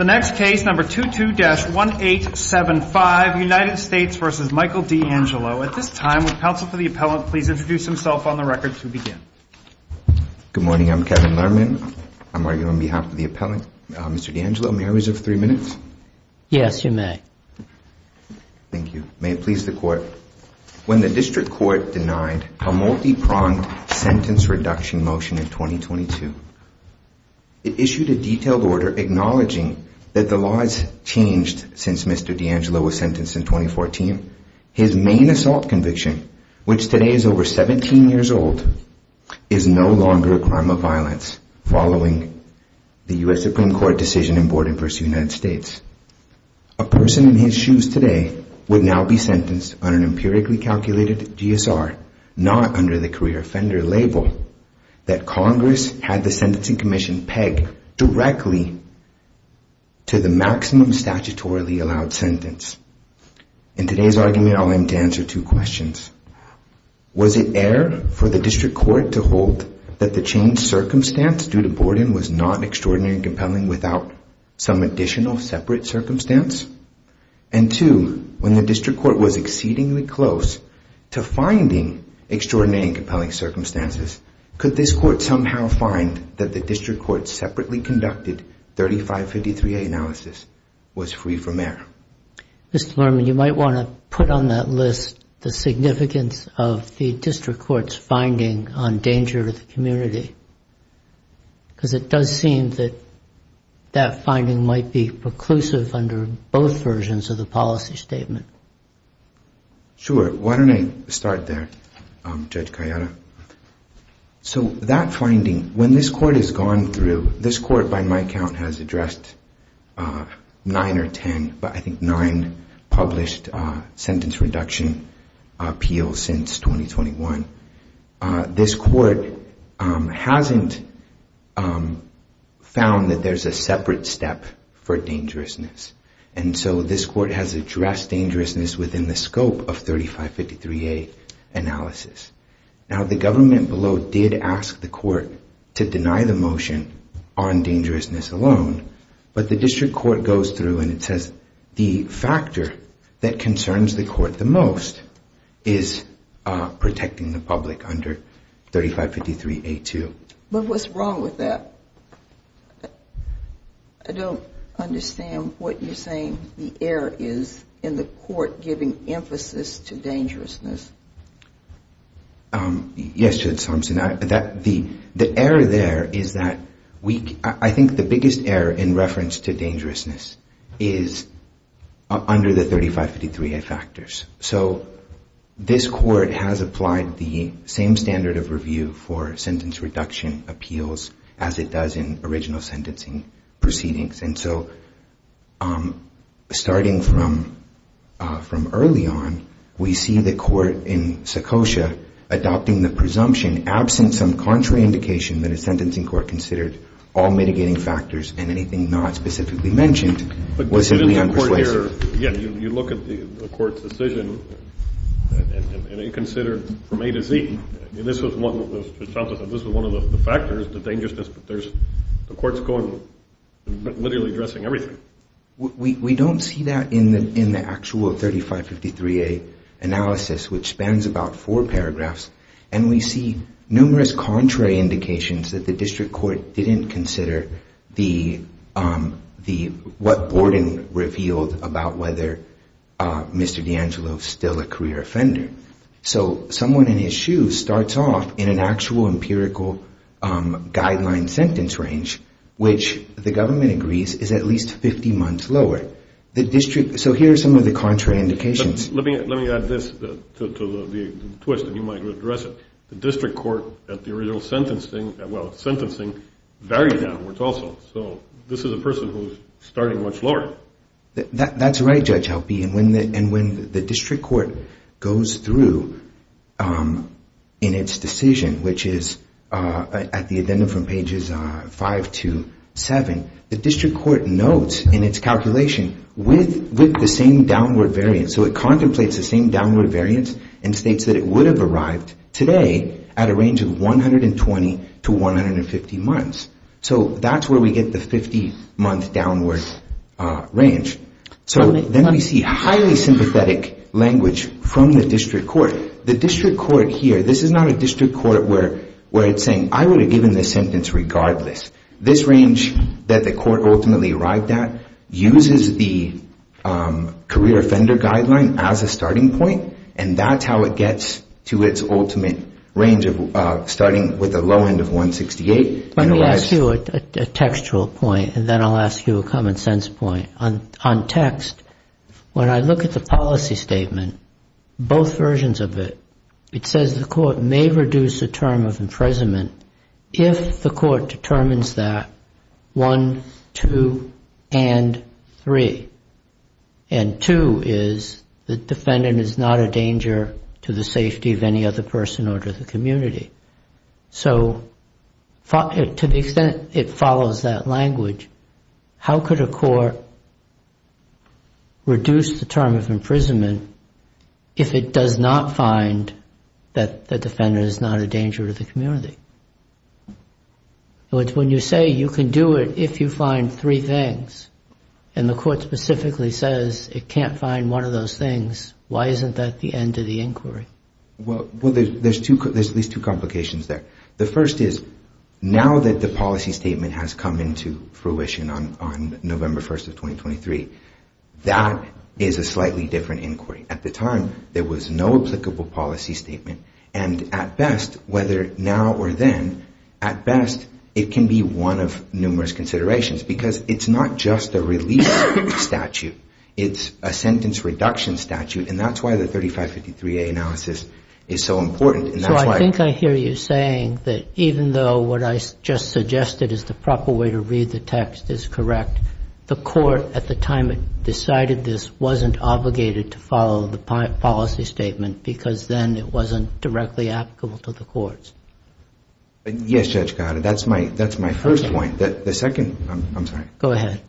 The next case, number 22-1875, United States v. Michael D'Angelo. At this time, will counsel for the appellant please introduce himself on the record to begin. Good morning, I'm Kevin Lerman. I'm arguing on behalf of the appellant. Mr. D'Angelo, may I reserve three minutes? Yes, you may. Thank you. May it please the court, when the district court denied a multi-pronged sentence for induction motion in 2022. It issued a detailed order acknowledging that the laws changed since Mr. D'Angelo was sentenced in 2014. His main assault conviction, which today is over 17 years old, is no longer a crime of violence, following the U.S. Supreme Court decision in boarding v. United States. A person in his shoes today would now be sentenced on an empirically calculated GSR, not under the career offender label that Congress had the sentencing commission peg directly to the maximum statutorily allowed sentence. In today's argument, I'll aim to answer two questions. Was it air for the district court to hold that the changed circumstance due to boarding was not extraordinary and compelling without some additional separate circumstance? And two, when the district court was exceedingly close to finding extraordinary and compelling circumstances, could this court somehow find that the district court separately conducted 3553A analysis was free from air? Mr. Lerman, you might want to put on that list the significance of the district court's finding on danger to the community, because it does seem that that finding might be preclusive under both versions of the policy statement. Sure. Why don't I start there, Judge Cayetano? So that finding, when this court has gone through, this court by my count has addressed nine or ten, but I think nine, published sentence reduction appeals since 2021. This court hasn't found that there's a separate step for dangerousness. And so this court has addressed dangerousness within the scope of 3553A analysis. Now the government below did ask the court to deny the motion on dangerousness alone, but the district court goes through and it says the factor that concerns the court the most is protecting the public under 3553A2. But what's wrong with that? I don't understand what you're saying the error is in the court giving emphasis to dangerousness. Yes, Judge Thompson. The error there is that we, I think the biggest error in reference to dangerousness is under the 3553A factors. So this court has applied the same standard of review for sentence reduction appeals as it does in original sentencing proceedings. And so starting from early on, we see the court in Secocia adopting the presumption, absent some contrary indication that a sentencing court considered all mitigating factors and anything not specifically mentioned, was simply unpersuasive. You look at the court's decision and it considered from A to Z. This was one of the factors, the dangerousness that the court's going, literally addressing everything. We don't see that in the actual 3553A analysis, which spans about four paragraphs. And we see numerous contrary indications that the district court didn't consider what Borden revealed about whether Mr. DeAngelo is still a career offender. So someone in his shoes starts off in an actual empirical guideline sentence range, which the government agrees is at least 50 months lower. So here are some of the contrary indications. Let me add this to the twist and you might address it. The district court at the original sentencing varied downwards also. So this is a person who is starting much lower. That's right, Judge Helpe. And when the district court goes through in its decision, which is at the agenda from pages 5 to 7, the district court notes in its calculation with the same downward variance. So it contemplates the same downward variance and states that it would have arrived today at a range of 120 to 150 months. So that's where we get the 50-month downward range. So then we see highly sympathetic language from the district court. The district court here, this is not a district court where it's saying, I would have given this sentence regardless. This range that the court ultimately arrived at uses the career offender guideline as a starting point and that's how it gets to its ultimate range of starting with a low end of 168 Let me ask you a textual point and then I'll ask you a common sense point. On text, when I look at the policy statement, both versions of it, it says the court may reduce the term of imprisonment if the court determines that 1, 2, and 3. And 2 is the defendant is not a danger to the safety of any other person or to the community. So to the extent it follows that language, how could a court reduce the term of imprisonment if it does not find that the defendant is not a danger to the community? When you say you can do it if you find three things and the court specifically says it can't find one of those things, why isn't that the end of the inquiry? Well, there's at least two complications there. The first is, now that the policy statement has come into fruition on November 1st of 2023, that is a slightly different inquiry. At the time, there was no applicable policy statement and at best, whether now or then, at best, it can be one of numerous considerations because it's not just a release statute, it's a sentence reduction statute and that's why the 3553A analysis is so important. So I think I hear you saying that even though what I just suggested is the proper way to read the text is correct, the court, at the time it decided this, wasn't obligated to follow the policy statement because then it wasn't directly applicable to the courts. Yes, Judge Gatta, that's my first point. The second, I'm sorry. Go ahead.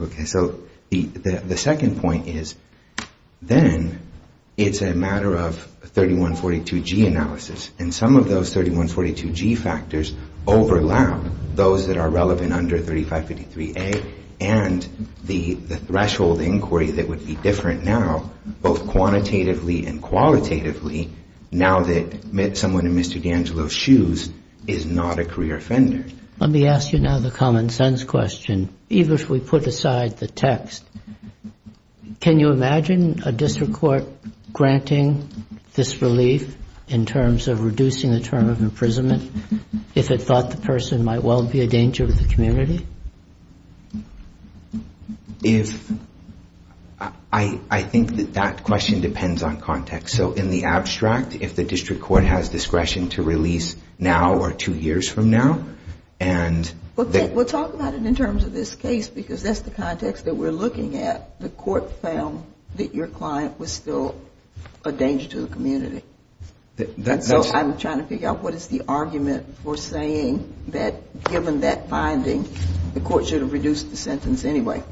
Okay, so the second point is then it's a matter of 3142G analysis and some of those 3142G factors overlap those that are relevant under 3553A and the threshold inquiry that would be different now, both quantitatively and qualitatively, now that someone in Mr. D'Angelo's shoes is not a career offender. Let me ask you now the common sense question. Even if we put aside the text, can you imagine a district court granting this relief in terms of reducing the term of imprisonment if it thought the person might well be a danger to the community? I think that that question depends on context. So in the abstract, if the district court has discretion to release now or two years from now and... Well, talk about it in terms of this case because that's the context that we're looking at. The court found that your client was still a danger to the community. So I'm trying to figure out what is the argument for saying that given that finding, the court should have reduced the sentence anyway.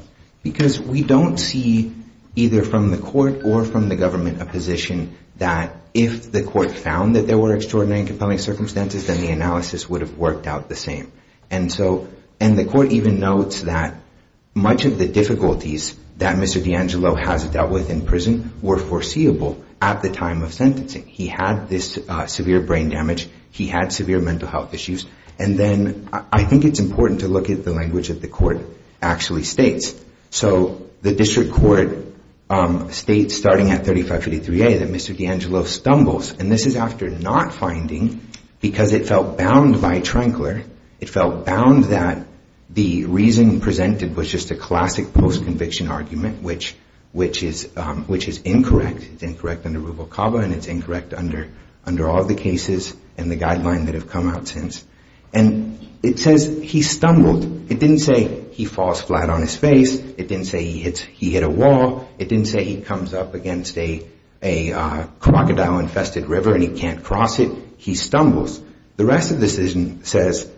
Because we don't see either from the court or from the government a position that if the court found that there were extraordinary and compelling circumstances, then the analysis would have worked out the same. And the court even notes that much of the difficulties that Mr. DeAngelo has dealt with in prison were foreseeable at the time of sentencing. He had this severe brain damage. He had severe mental health issues. And then I think it's important to look at the language that the court actually states. So the district court states starting at 3553A that Mr. DeAngelo stumbles. And this is after not finding because it felt bound by Trankler. It felt bound that the reason presented was just a classic post-conviction argument, which is incorrect. It's incorrect under Rubel-Caba and it's incorrect under all the cases and the guidelines that have come out since. And it says he stumbled. It didn't say he falls flat on his face. It didn't say he hit a wall. It didn't say he comes up against a crocodile-infested river and he can't cross it. He stumbles. The rest of the decision says,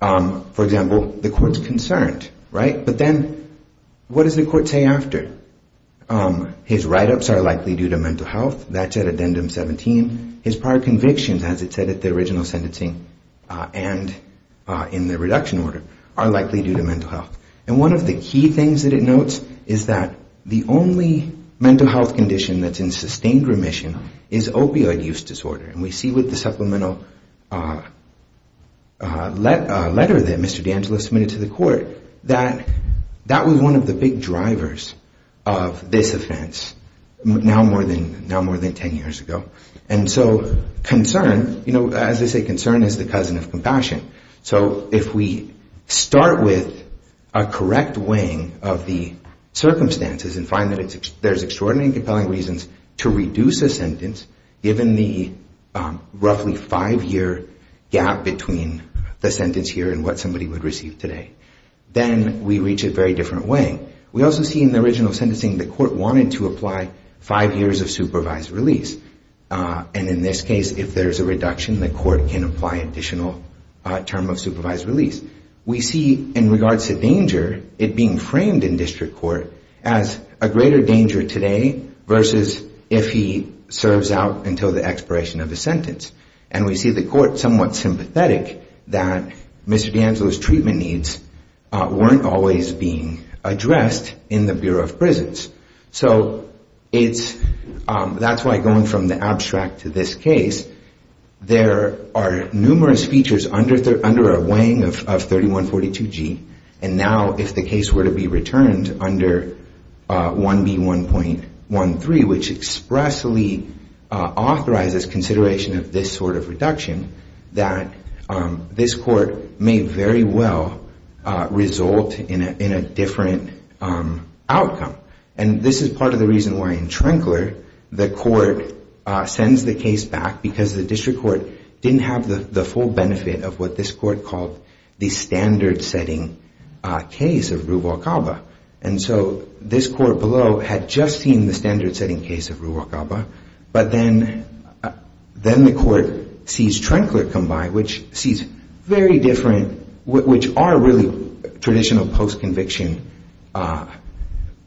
for example, the court's concerned. But then what does the court say after? His write-ups are likely due to mental health. That's at addendum 17. His prior convictions, as it said at the original sentencing and in the reduction order, are likely due to mental health. And one of the key things that it notes is that the only mental health condition that's in sustained remission is opioid use disorder. And we see with the supplemental letter that Mr. D'Angelo submitted to the court that that was one of the big drivers of this offense, now more than 10 years ago. And so concern, you know, as they say, concern is the cousin of compassion. So if we start with a correct weighing of the circumstances and find that there's extraordinary and compelling reasons to reduce a sentence given the roughly five-year gap between the sentence here and what somebody would receive today, then we reach a very different weighing. We also see in the original sentencing the court wanted to apply five years of supervised release. And in this case, if there's a reduction, the court can apply additional term of supervised release. We see, in regards to danger, it being framed in district court as a greater danger today versus if he serves out until the expiration of the sentence. And we see the court somewhat sympathetic that Mr. D'Angelo's treatment needs weren't always being addressed in the Bureau of Prisons. So that's why, going from the abstract to this case, there are numerous features under a weighing of 3142G. And now, if the case were to be returned under 1B1.13, which expressly authorizes consideration of this sort of reduction, that this court may very well result in a different outcome. And this is part of the reason why, in Trinkler, the court sends the case back because the district court didn't have the full benefit of what this court called the standard-setting case of Ruvalcaba. And so, this court below had just seen the standard-setting case of Ruvalcaba, but then the court sees Trinkler come by, which sees very different, which are really traditional post-conviction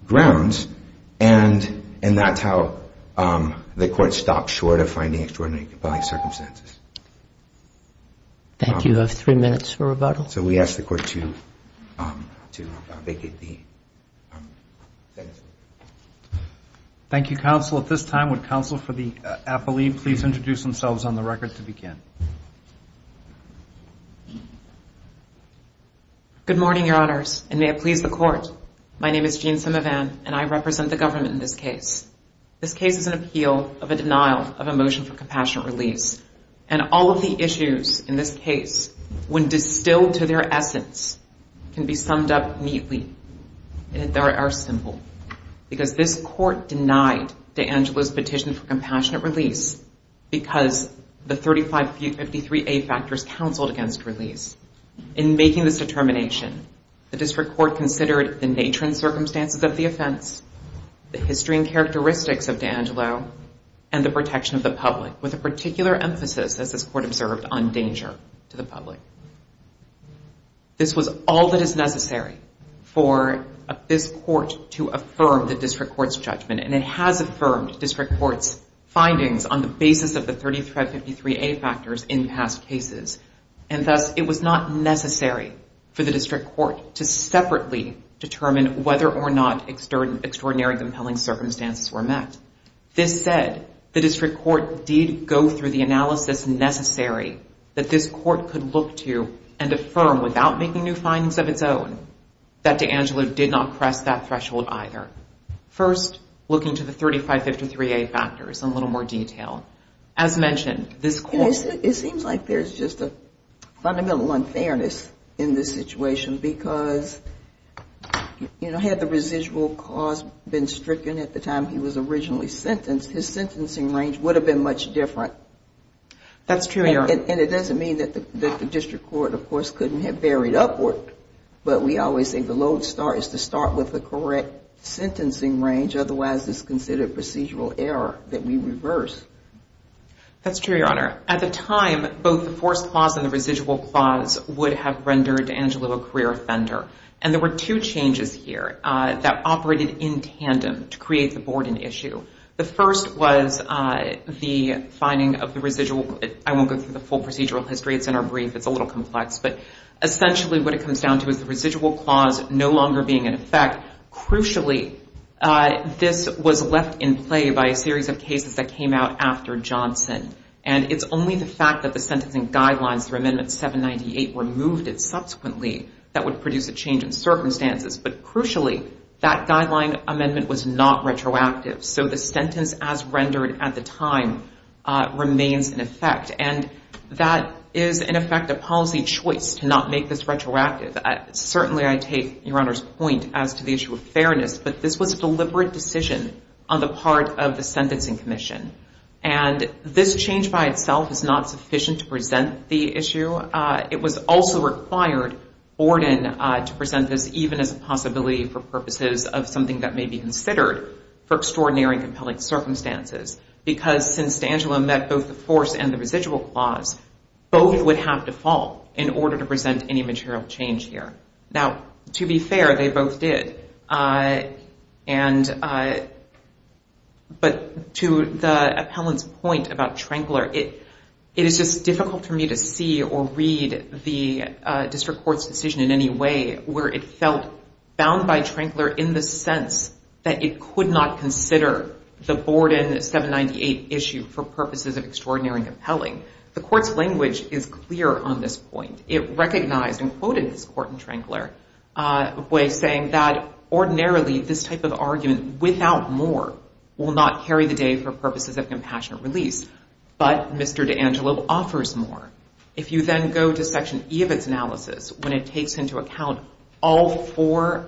grounds. And that's how the court stopped short of finding extraordinary compelling circumstances. Thank you. You have three minutes for rebuttal. So we ask the court to vacate the sentence. Thank you, counsel. At this time, would counsel for the appellee please introduce themselves on the record to begin? Good morning, your honors, and may it please the court. My name is Jean Simivan, and I represent the government in this case. This case is an appeal of a denial of a motion for compassionate release. And all of the issues in this case, when distilled to their essence, can be summed up neatly and are simple. Because this court denied DeAngelo's petition for compassionate release because the 3553A factors counseled against release. the district court considered the nature and circumstances of the offense, the history and characteristics of DeAngelo, and the protection of the public, with a particular emphasis as this court observed, on danger to the public. This was all that is necessary for this court to affirm the district court's judgment. And it has affirmed district court's findings on the basis of the 3553A factors in past cases. And thus, it was not necessary for the district court to separately determine whether or not extraordinary circumstances were met. This said, the district court did go through the analysis necessary that this court could look to and affirm, without making new findings of its own, that DeAngelo did not press that threshold either. First, looking to the 3553A factors, in a little more detail. It seems like there's just a fundamental unfairness in this situation because had the DeAngelo been stricken at the time he was originally sentenced, his sentencing range would have been much different. And it doesn't mean that the district court, of course, couldn't have varied upward. But we always say the low start is to start with the correct sentencing range, otherwise it's considered procedural error that we reverse. That's true, Your Honor. At the time, both the forced clause and the residual clause would have rendered DeAngelo a career offender. And there were two changes here that operated in tandem to create the Borden issue. The first was the finding of the residual, I won't go through the full procedural history, it's in our brief, it's a little complex, but essentially what it comes down to is the residual clause no longer being in effect. Crucially, this was left in play by a series of cases that came out after Johnson. And it's only the fact that the sentencing guidelines for Amendment 798 removed it subsequently that would produce a But crucially, that guideline amendment was not retroactive. So the sentence as rendered at the time remains in effect. And that is, in effect, a policy choice to not make this retroactive. Certainly, I take Your Honor's point as to the issue of fairness, but this was a deliberate decision on the part of the Sentencing Commission. And this change by itself is not sufficient to present the issue. It was also required for Borden to present this even as a possibility for purposes of something that may be considered for extraordinary and compelling circumstances. Because, since D'Angelo met both the force and the residual clause, both would have to fall in order to present any material change here. Now, to be fair, they both did. But to the appellant's point about Trankler, it is just difficult for me to see or see the Court's decision in any way where it felt bound by Trankler in the sense that it could not consider the Borden 798 issue for purposes of extraordinary and compelling. The Court's language is clear on this point. It recognized and quoted this Court in Trankler by saying that, ordinarily, this type of argument without more will not carry the day for purposes of compassionate release. But Mr. D'Angelo offers more. If you then go to Section E of its analysis, when it takes into account all four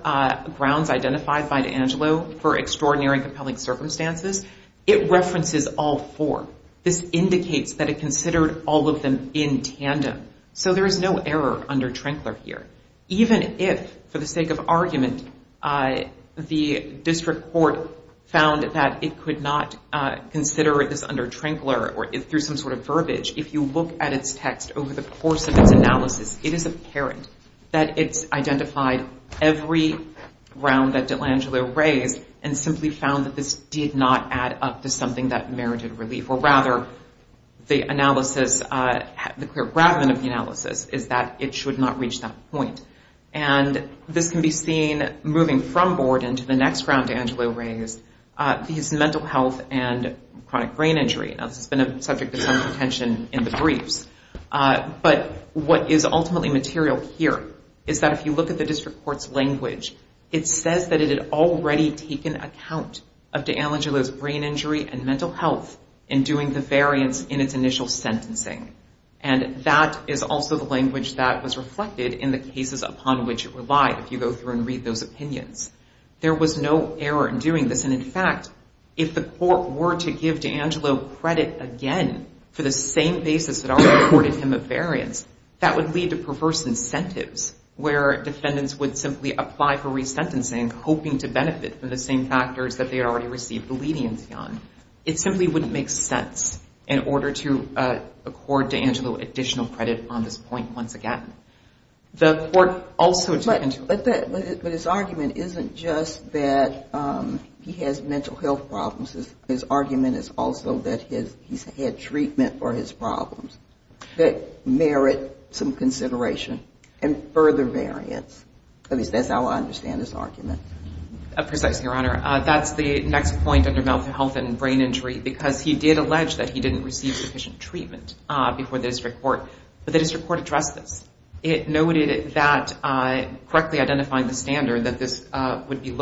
grounds identified by D'Angelo for extraordinary and compelling circumstances, it references all four. This indicates that it considered all of them in tandem. So there is no error under Trankler here. Even if, for the sake of argument, the District Court found that it could not consider this under Trankler or through some sort of verbiage, if you look at its text over the course of its analysis, it is apparent that it's identified every ground that D'Angelo raised and simply found that this did not add up to something that merited relief. Or rather, the clear gravamen of the analysis is that it should not reach that point. This can be seen moving from Borden to the next ground D'Angelo raised is mental health and subject to some contention in the briefs. But what is ultimately material here is that if you look at the District Court's language, it says that it had already taken account of D'Angelo's brain injury and mental health in doing the variance in its initial sentencing. And that is also the language that was reflected in the cases upon which it relied if you go through and read those opinions. There was no error in doing this and in fact, if the Court were to give D'Angelo credit again for the same basis that already accorded him a variance, that would lead to perverse incentives where defendants would simply apply for resentencing hoping to benefit from the same factors that they had already received leniency on. It simply wouldn't make sense in order to accord D'Angelo additional credit on this point once again. The Court also took into... But his argument isn't just that he has mental health problems. His argument is also that he's had treatment for his problems that merit some consideration and further variance. At least, that's how I understand his argument. Precisely, Your Honor. That's the next point under mental health and brain injury because he did allege that he didn't receive sufficient treatment before the District Court. But the District Court addressed this. It noted that correctly identifying the standard that this would be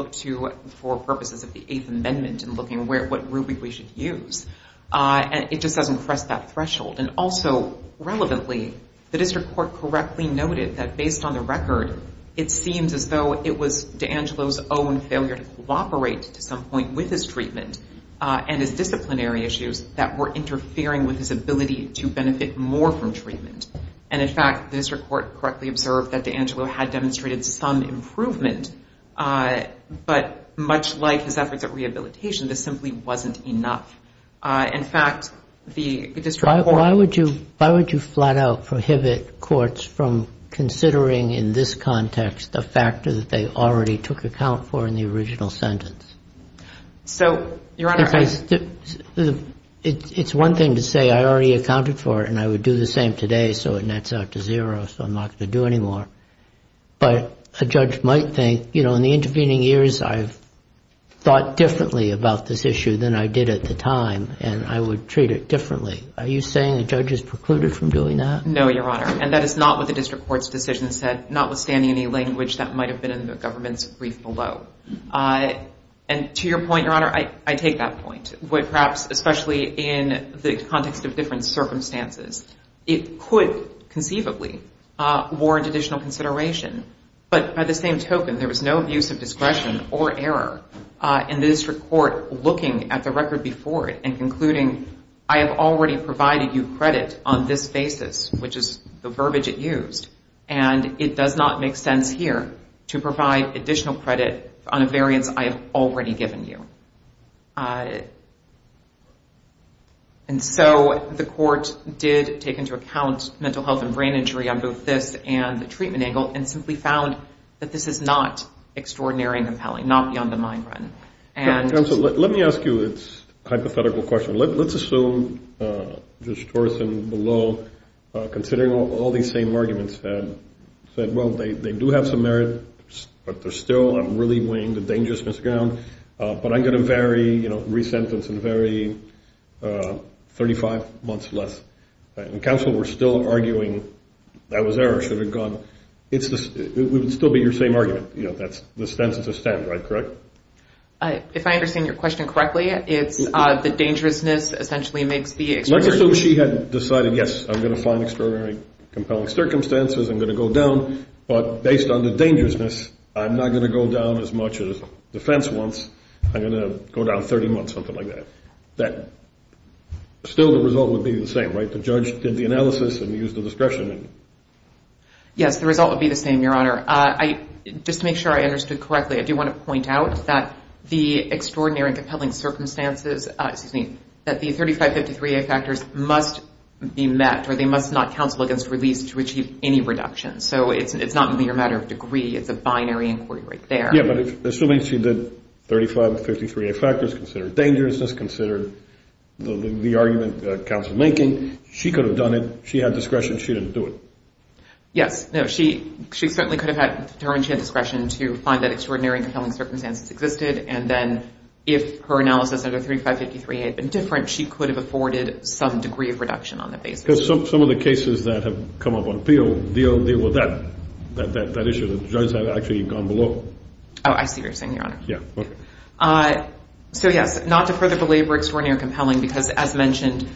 for purposes of the Eighth Amendment and looking at what ruby we should use. It just doesn't cross that threshold. Also, relevantly, the District Court correctly noted that based on the record it seems as though it was D'Angelo's own failure to cooperate to some point with his treatment and his disciplinary issues that were interfering with his ability to benefit more from treatment. In fact, the District Court correctly observed that D'Angelo had demonstrated some improvement, but much like his efforts at rehabilitation this simply wasn't enough. In fact, the District Court... Why would you flat out prohibit courts from considering in this context the factor that they already took account for in the original sentence? So, Your Honor... It's one thing to say, I already accounted for it and I would do the same today so it nets out to zero so I'm not going to do anymore. But a judge might think, you know, in the intervening years I've thought differently about this issue than I did at the time and I would treat it differently. Are you saying a judge is precluded from doing that? No, Your Honor, and that is not what the District Court's decision said, notwithstanding any language that might have been in the government's brief below. To your point, Your Honor, I take that point. What perhaps, especially in the context of different circumstances, it could conceivably warrant additional consideration. But by the same token, there was no abuse of discretion or error in the District Court looking at the record before it and concluding I have already provided you credit on this basis, which is the verbiage it used, and it does not make sense here to provide additional credit on a variance I have already given you. Uh... And so the court did take into account mental health and brain injury on both this and the treatment angle and simply found that this is not extraordinary and compelling, not beyond the mind run. Counsel, let me ask you this hypothetical question. Let's assume Judge Torreson below, considering all these same arguments, said, well, they do have some merit but they're still really weighing the dangerousness down, but I'm going to vary, you know, resentence and vary 35 months less. Counsel, we're still arguing that was error or should have gone, it would still be your same argument, you know, that's the standard, correct? If I understand your question correctly, it's the dangerousness essentially makes the extraordinary... Let's assume she had decided, yes, I'm going to find extraordinary compelling circumstances, I'm going to go down but based on the dangerousness I'm not going to go down as much as defense wants, I'm going to go down 30 months, something like that. Still the result would be the same, right? The judge did the analysis and used the discretion. Yes, the result would be the same, Your Honor. Just to make sure I understood correctly, I do want to point out that the extraordinary and compelling circumstances excuse me, that the 35-53A factors must be met or they must not counsel against release to achieve any reduction, so it's not merely a matter of degree, it's a binary inquiry right there. Yeah, but assuming she did 35-53A factors considered dangerousness, considered the argument counsel making she could have done it, she had discretion she didn't do it. Yes, she certainly could have had discretion to find that extraordinary and compelling circumstances existed and then if her analysis under 35-53A had been different, she could have afforded some degree of reduction on that basis. Some of the cases that have come up on appeal issue, the judges have actually gone below. Oh, I see what you're saying, Your Honor. So yes, not to further belabor extraordinary and compelling because as mentioned,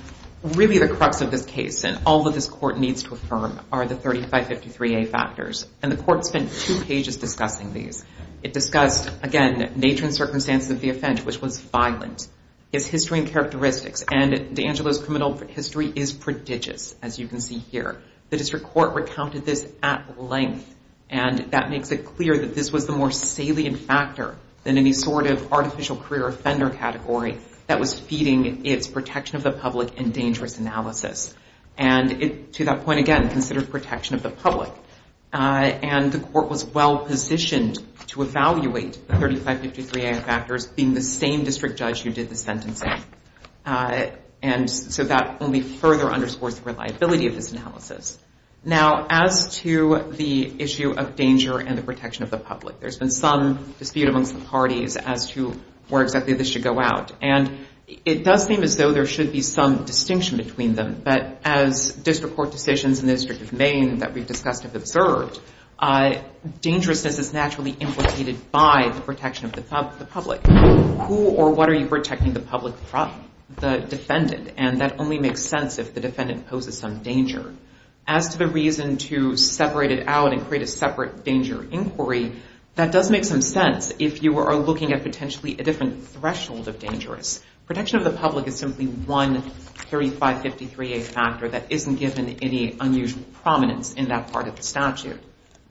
really the crux of this case and all that this court needs to affirm are the 35-53A factors and the court spent two pages discussing these. It discussed, again, nature and circumstances of the offense, which was violent its history and characteristics and DeAngelo's criminal history is prodigious as you can see here. The district court recounted this at length and that makes it clear that this was the more salient factor than any sort of artificial career offender category that was feeding its protection of the public and dangerous analysis. And to that point again, consider protection of the public and the court was well positioned to evaluate the 35-53A factors being the same district judge who did the sentencing and so that only further underscores the reliability of this analysis. Now, as to the protection of the public, there's been some dispute amongst the parties as to where exactly this should go out and it does seem as though there should be some distinction between them but as district court decisions in the District of Maine that we've discussed have observed dangerousness is naturally implicated by the protection of the public. Who or what are you protecting the public from? The defendant and that only makes sense if the defendant poses some danger. As to the reason to separate it out and create a separate danger inquiry that does make some sense if you are looking at potentially a different threshold of dangerous. Protection of the public is simply one 35-53A factor that isn't given any unusual prominence in that part of the statute.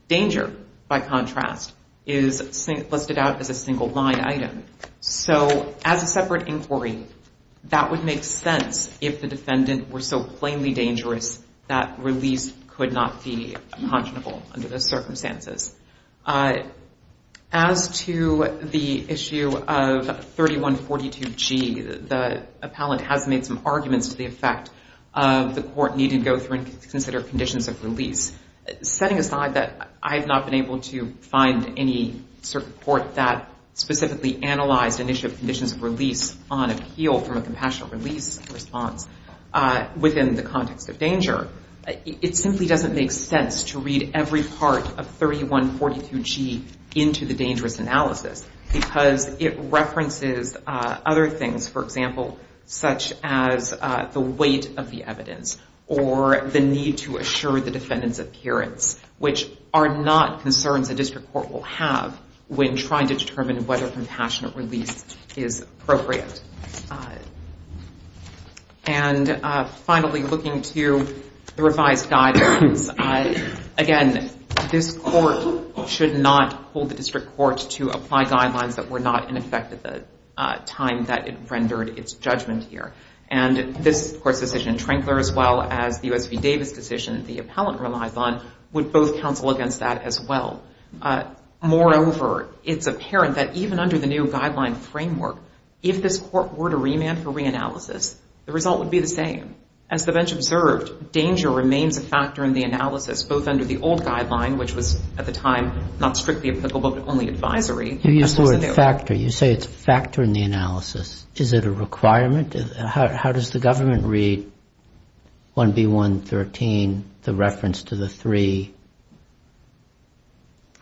Danger, by contrast, is listed out as a single line item. So, as a separate inquiry, that would make sense if the defendant were so plainly dangerous that release could not be congenital under those circumstances. As to the issue of 3142G, the appellant has made some arguments to the effect of the court needing to go through and consider conditions of release. Setting aside that I have not been able to find any court that specifically analyzed an issue of conditions of release on appeal from a compassionate release response within the statute, it simply doesn't make sense to read every part of 3142G into the dangerous analysis because it references other things, for example, such as the weight of the evidence or the need to assure the defendant's appearance, which are not concerns a district court will have when trying to determine whether compassionate release is appropriate. And finally, looking to the revised guidelines, again, this court should not hold the district court to apply guidelines that were not in effect at the time that it rendered its judgment here. And this decision, Trinkler as well as the U.S. v. Davis decision the appellant relies on would both counsel against that as well. Moreover, it's apparent that even under the new guideline framework, if this court were to remand for reanalysis, the result would be the same. As the bench observed, danger remains a factor in the analysis, both under the old guideline, which was at the time not strictly applicable but only advisory. You use the word factor. You say it's a factor in the analysis. Is it a requirement? How does the government read 1B113, the reference to the three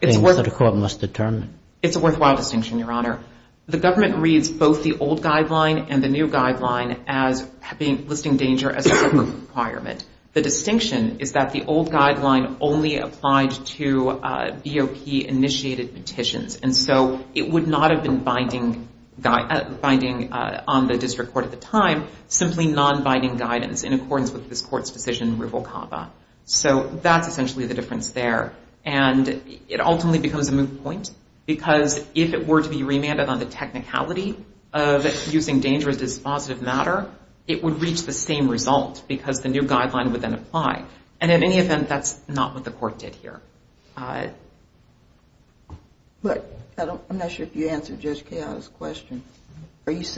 things that a court must determine? It's a worthwhile distinction, Your Honor. The government reads both the old guideline and the new guideline as listing danger as a requirement. The distinction is that the old guideline only applied to BOP-initiated petitions. And so it would not have been binding on the district court at the time, simply non-binding guidance in accordance with this court's decision, rivo cava. So that's essentially the difference there. And it ultimately becomes a moot point because if it were to be remanded on the technicality of using danger as a dispositive matter, it would reach the same result because the new guideline would then apply. And in any event, that's not what the court did here. But I'm not sure if you answered Judge Cahill's question. Is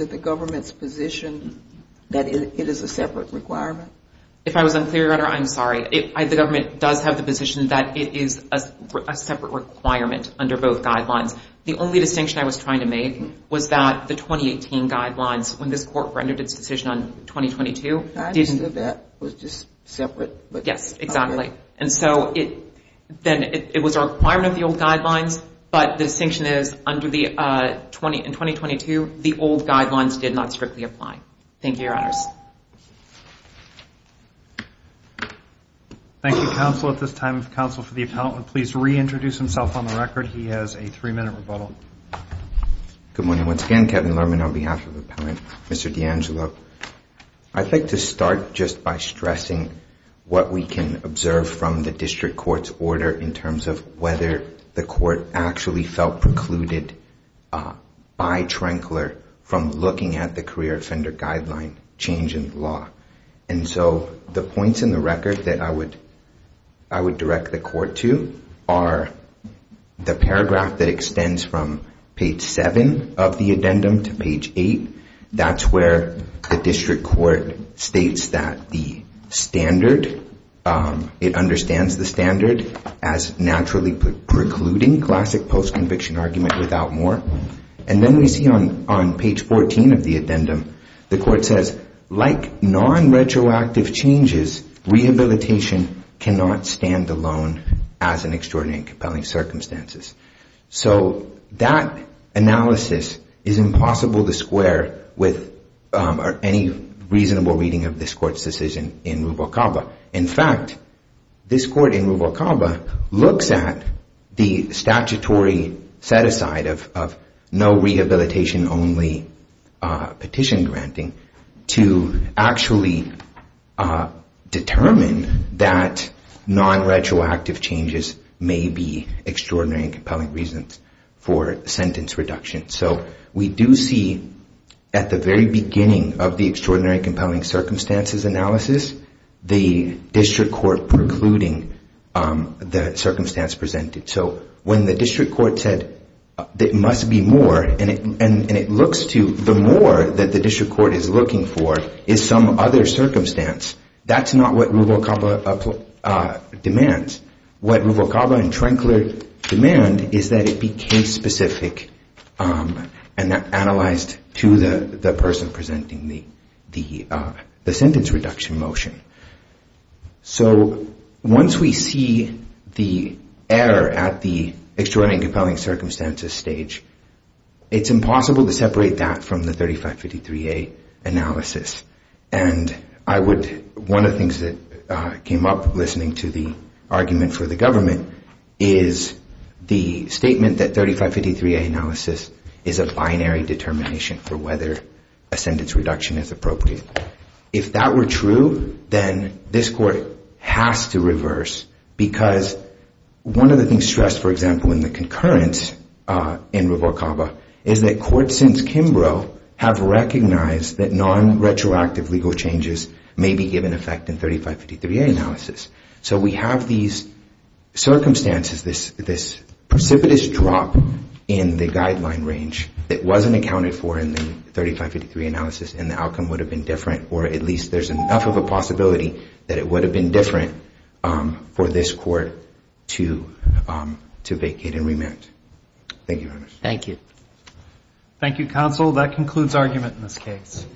it the government's position that it is a separate requirement? If I was unclear, Your Honor, I'm sorry. The government does have the position that it is a separate requirement under both guidelines. The only distinction I was trying to make was that the 2018 guidelines, when this court rendered its decision on 2022, was just separate. Yes, exactly. And so then it was a requirement of the old guidelines, but the distinction is under the 2022, the old guidelines did not strictly apply. Thank you, Your Honors. Thank you, Counsel. At this time, if Counsel for the Appellant would please reintroduce himself on the record. He has a three-minute rebuttal. Good morning once again. Kevin Lerman on behalf of the Appellant. Mr. D'Angelo, I'd like to start just by stressing what we can observe from the district court's order in terms of whether the court actually felt precluded by Trankler from looking at the career offender guideline change in the law. And so the points in the record that I would direct the court to are the paragraph that extends from page 7 of the addendum to page 8. That's where the district court states that the standard it understands the standard as naturally precluding, classic post-conviction argument without more. And then we see on page 14 of the addendum, the court says like non-retroactive changes, rehabilitation cannot stand alone as in extraordinary and compelling circumstances. So that analysis is impossible to square with any reasonable reading of this court's decision in Rubalcaba. In fact, this court in Rubalcaba looks at the statutory set-aside of no rehabilitation only petition granting to actually determine that non-retroactive changes may be extraordinary and compelling reasons for sentence reduction. So we do see at the very beginning of the extraordinary and compelling circumstances analysis the district court precluding the circumstance presented. So when the district court said there must be more, and it looks to the more that the district court is looking for is some other circumstance that's not what Rubalcaba demands. What Rubalcaba and Trenkler demand is that it be case specific and analyzed to the person presenting the sentence reduction motion. So once we see the error at the extraordinary and compelling circumstances stage it's impossible to separate that from the 3553A analysis. One of the things that came up listening to the argument for the government is the statement that 3553A analysis is a binary determination for whether a sentence reduction is appropriate. If that were true, then this court has to reverse because one of the things stressed, for example, in the concurrence in Rubalcaba is that courts since Kimbrough have recognized that non- retroactive legal changes may be given effect in 3553A analysis. So we have these circumstances, this precipitous drop in the guideline range that wasn't accounted for in the 3553 analysis and the outcome would have been different or at least there's enough of a possibility that it would have been different for this court to vacate and remand. Thank you very much. Thank you counsel. That concludes argument in this case.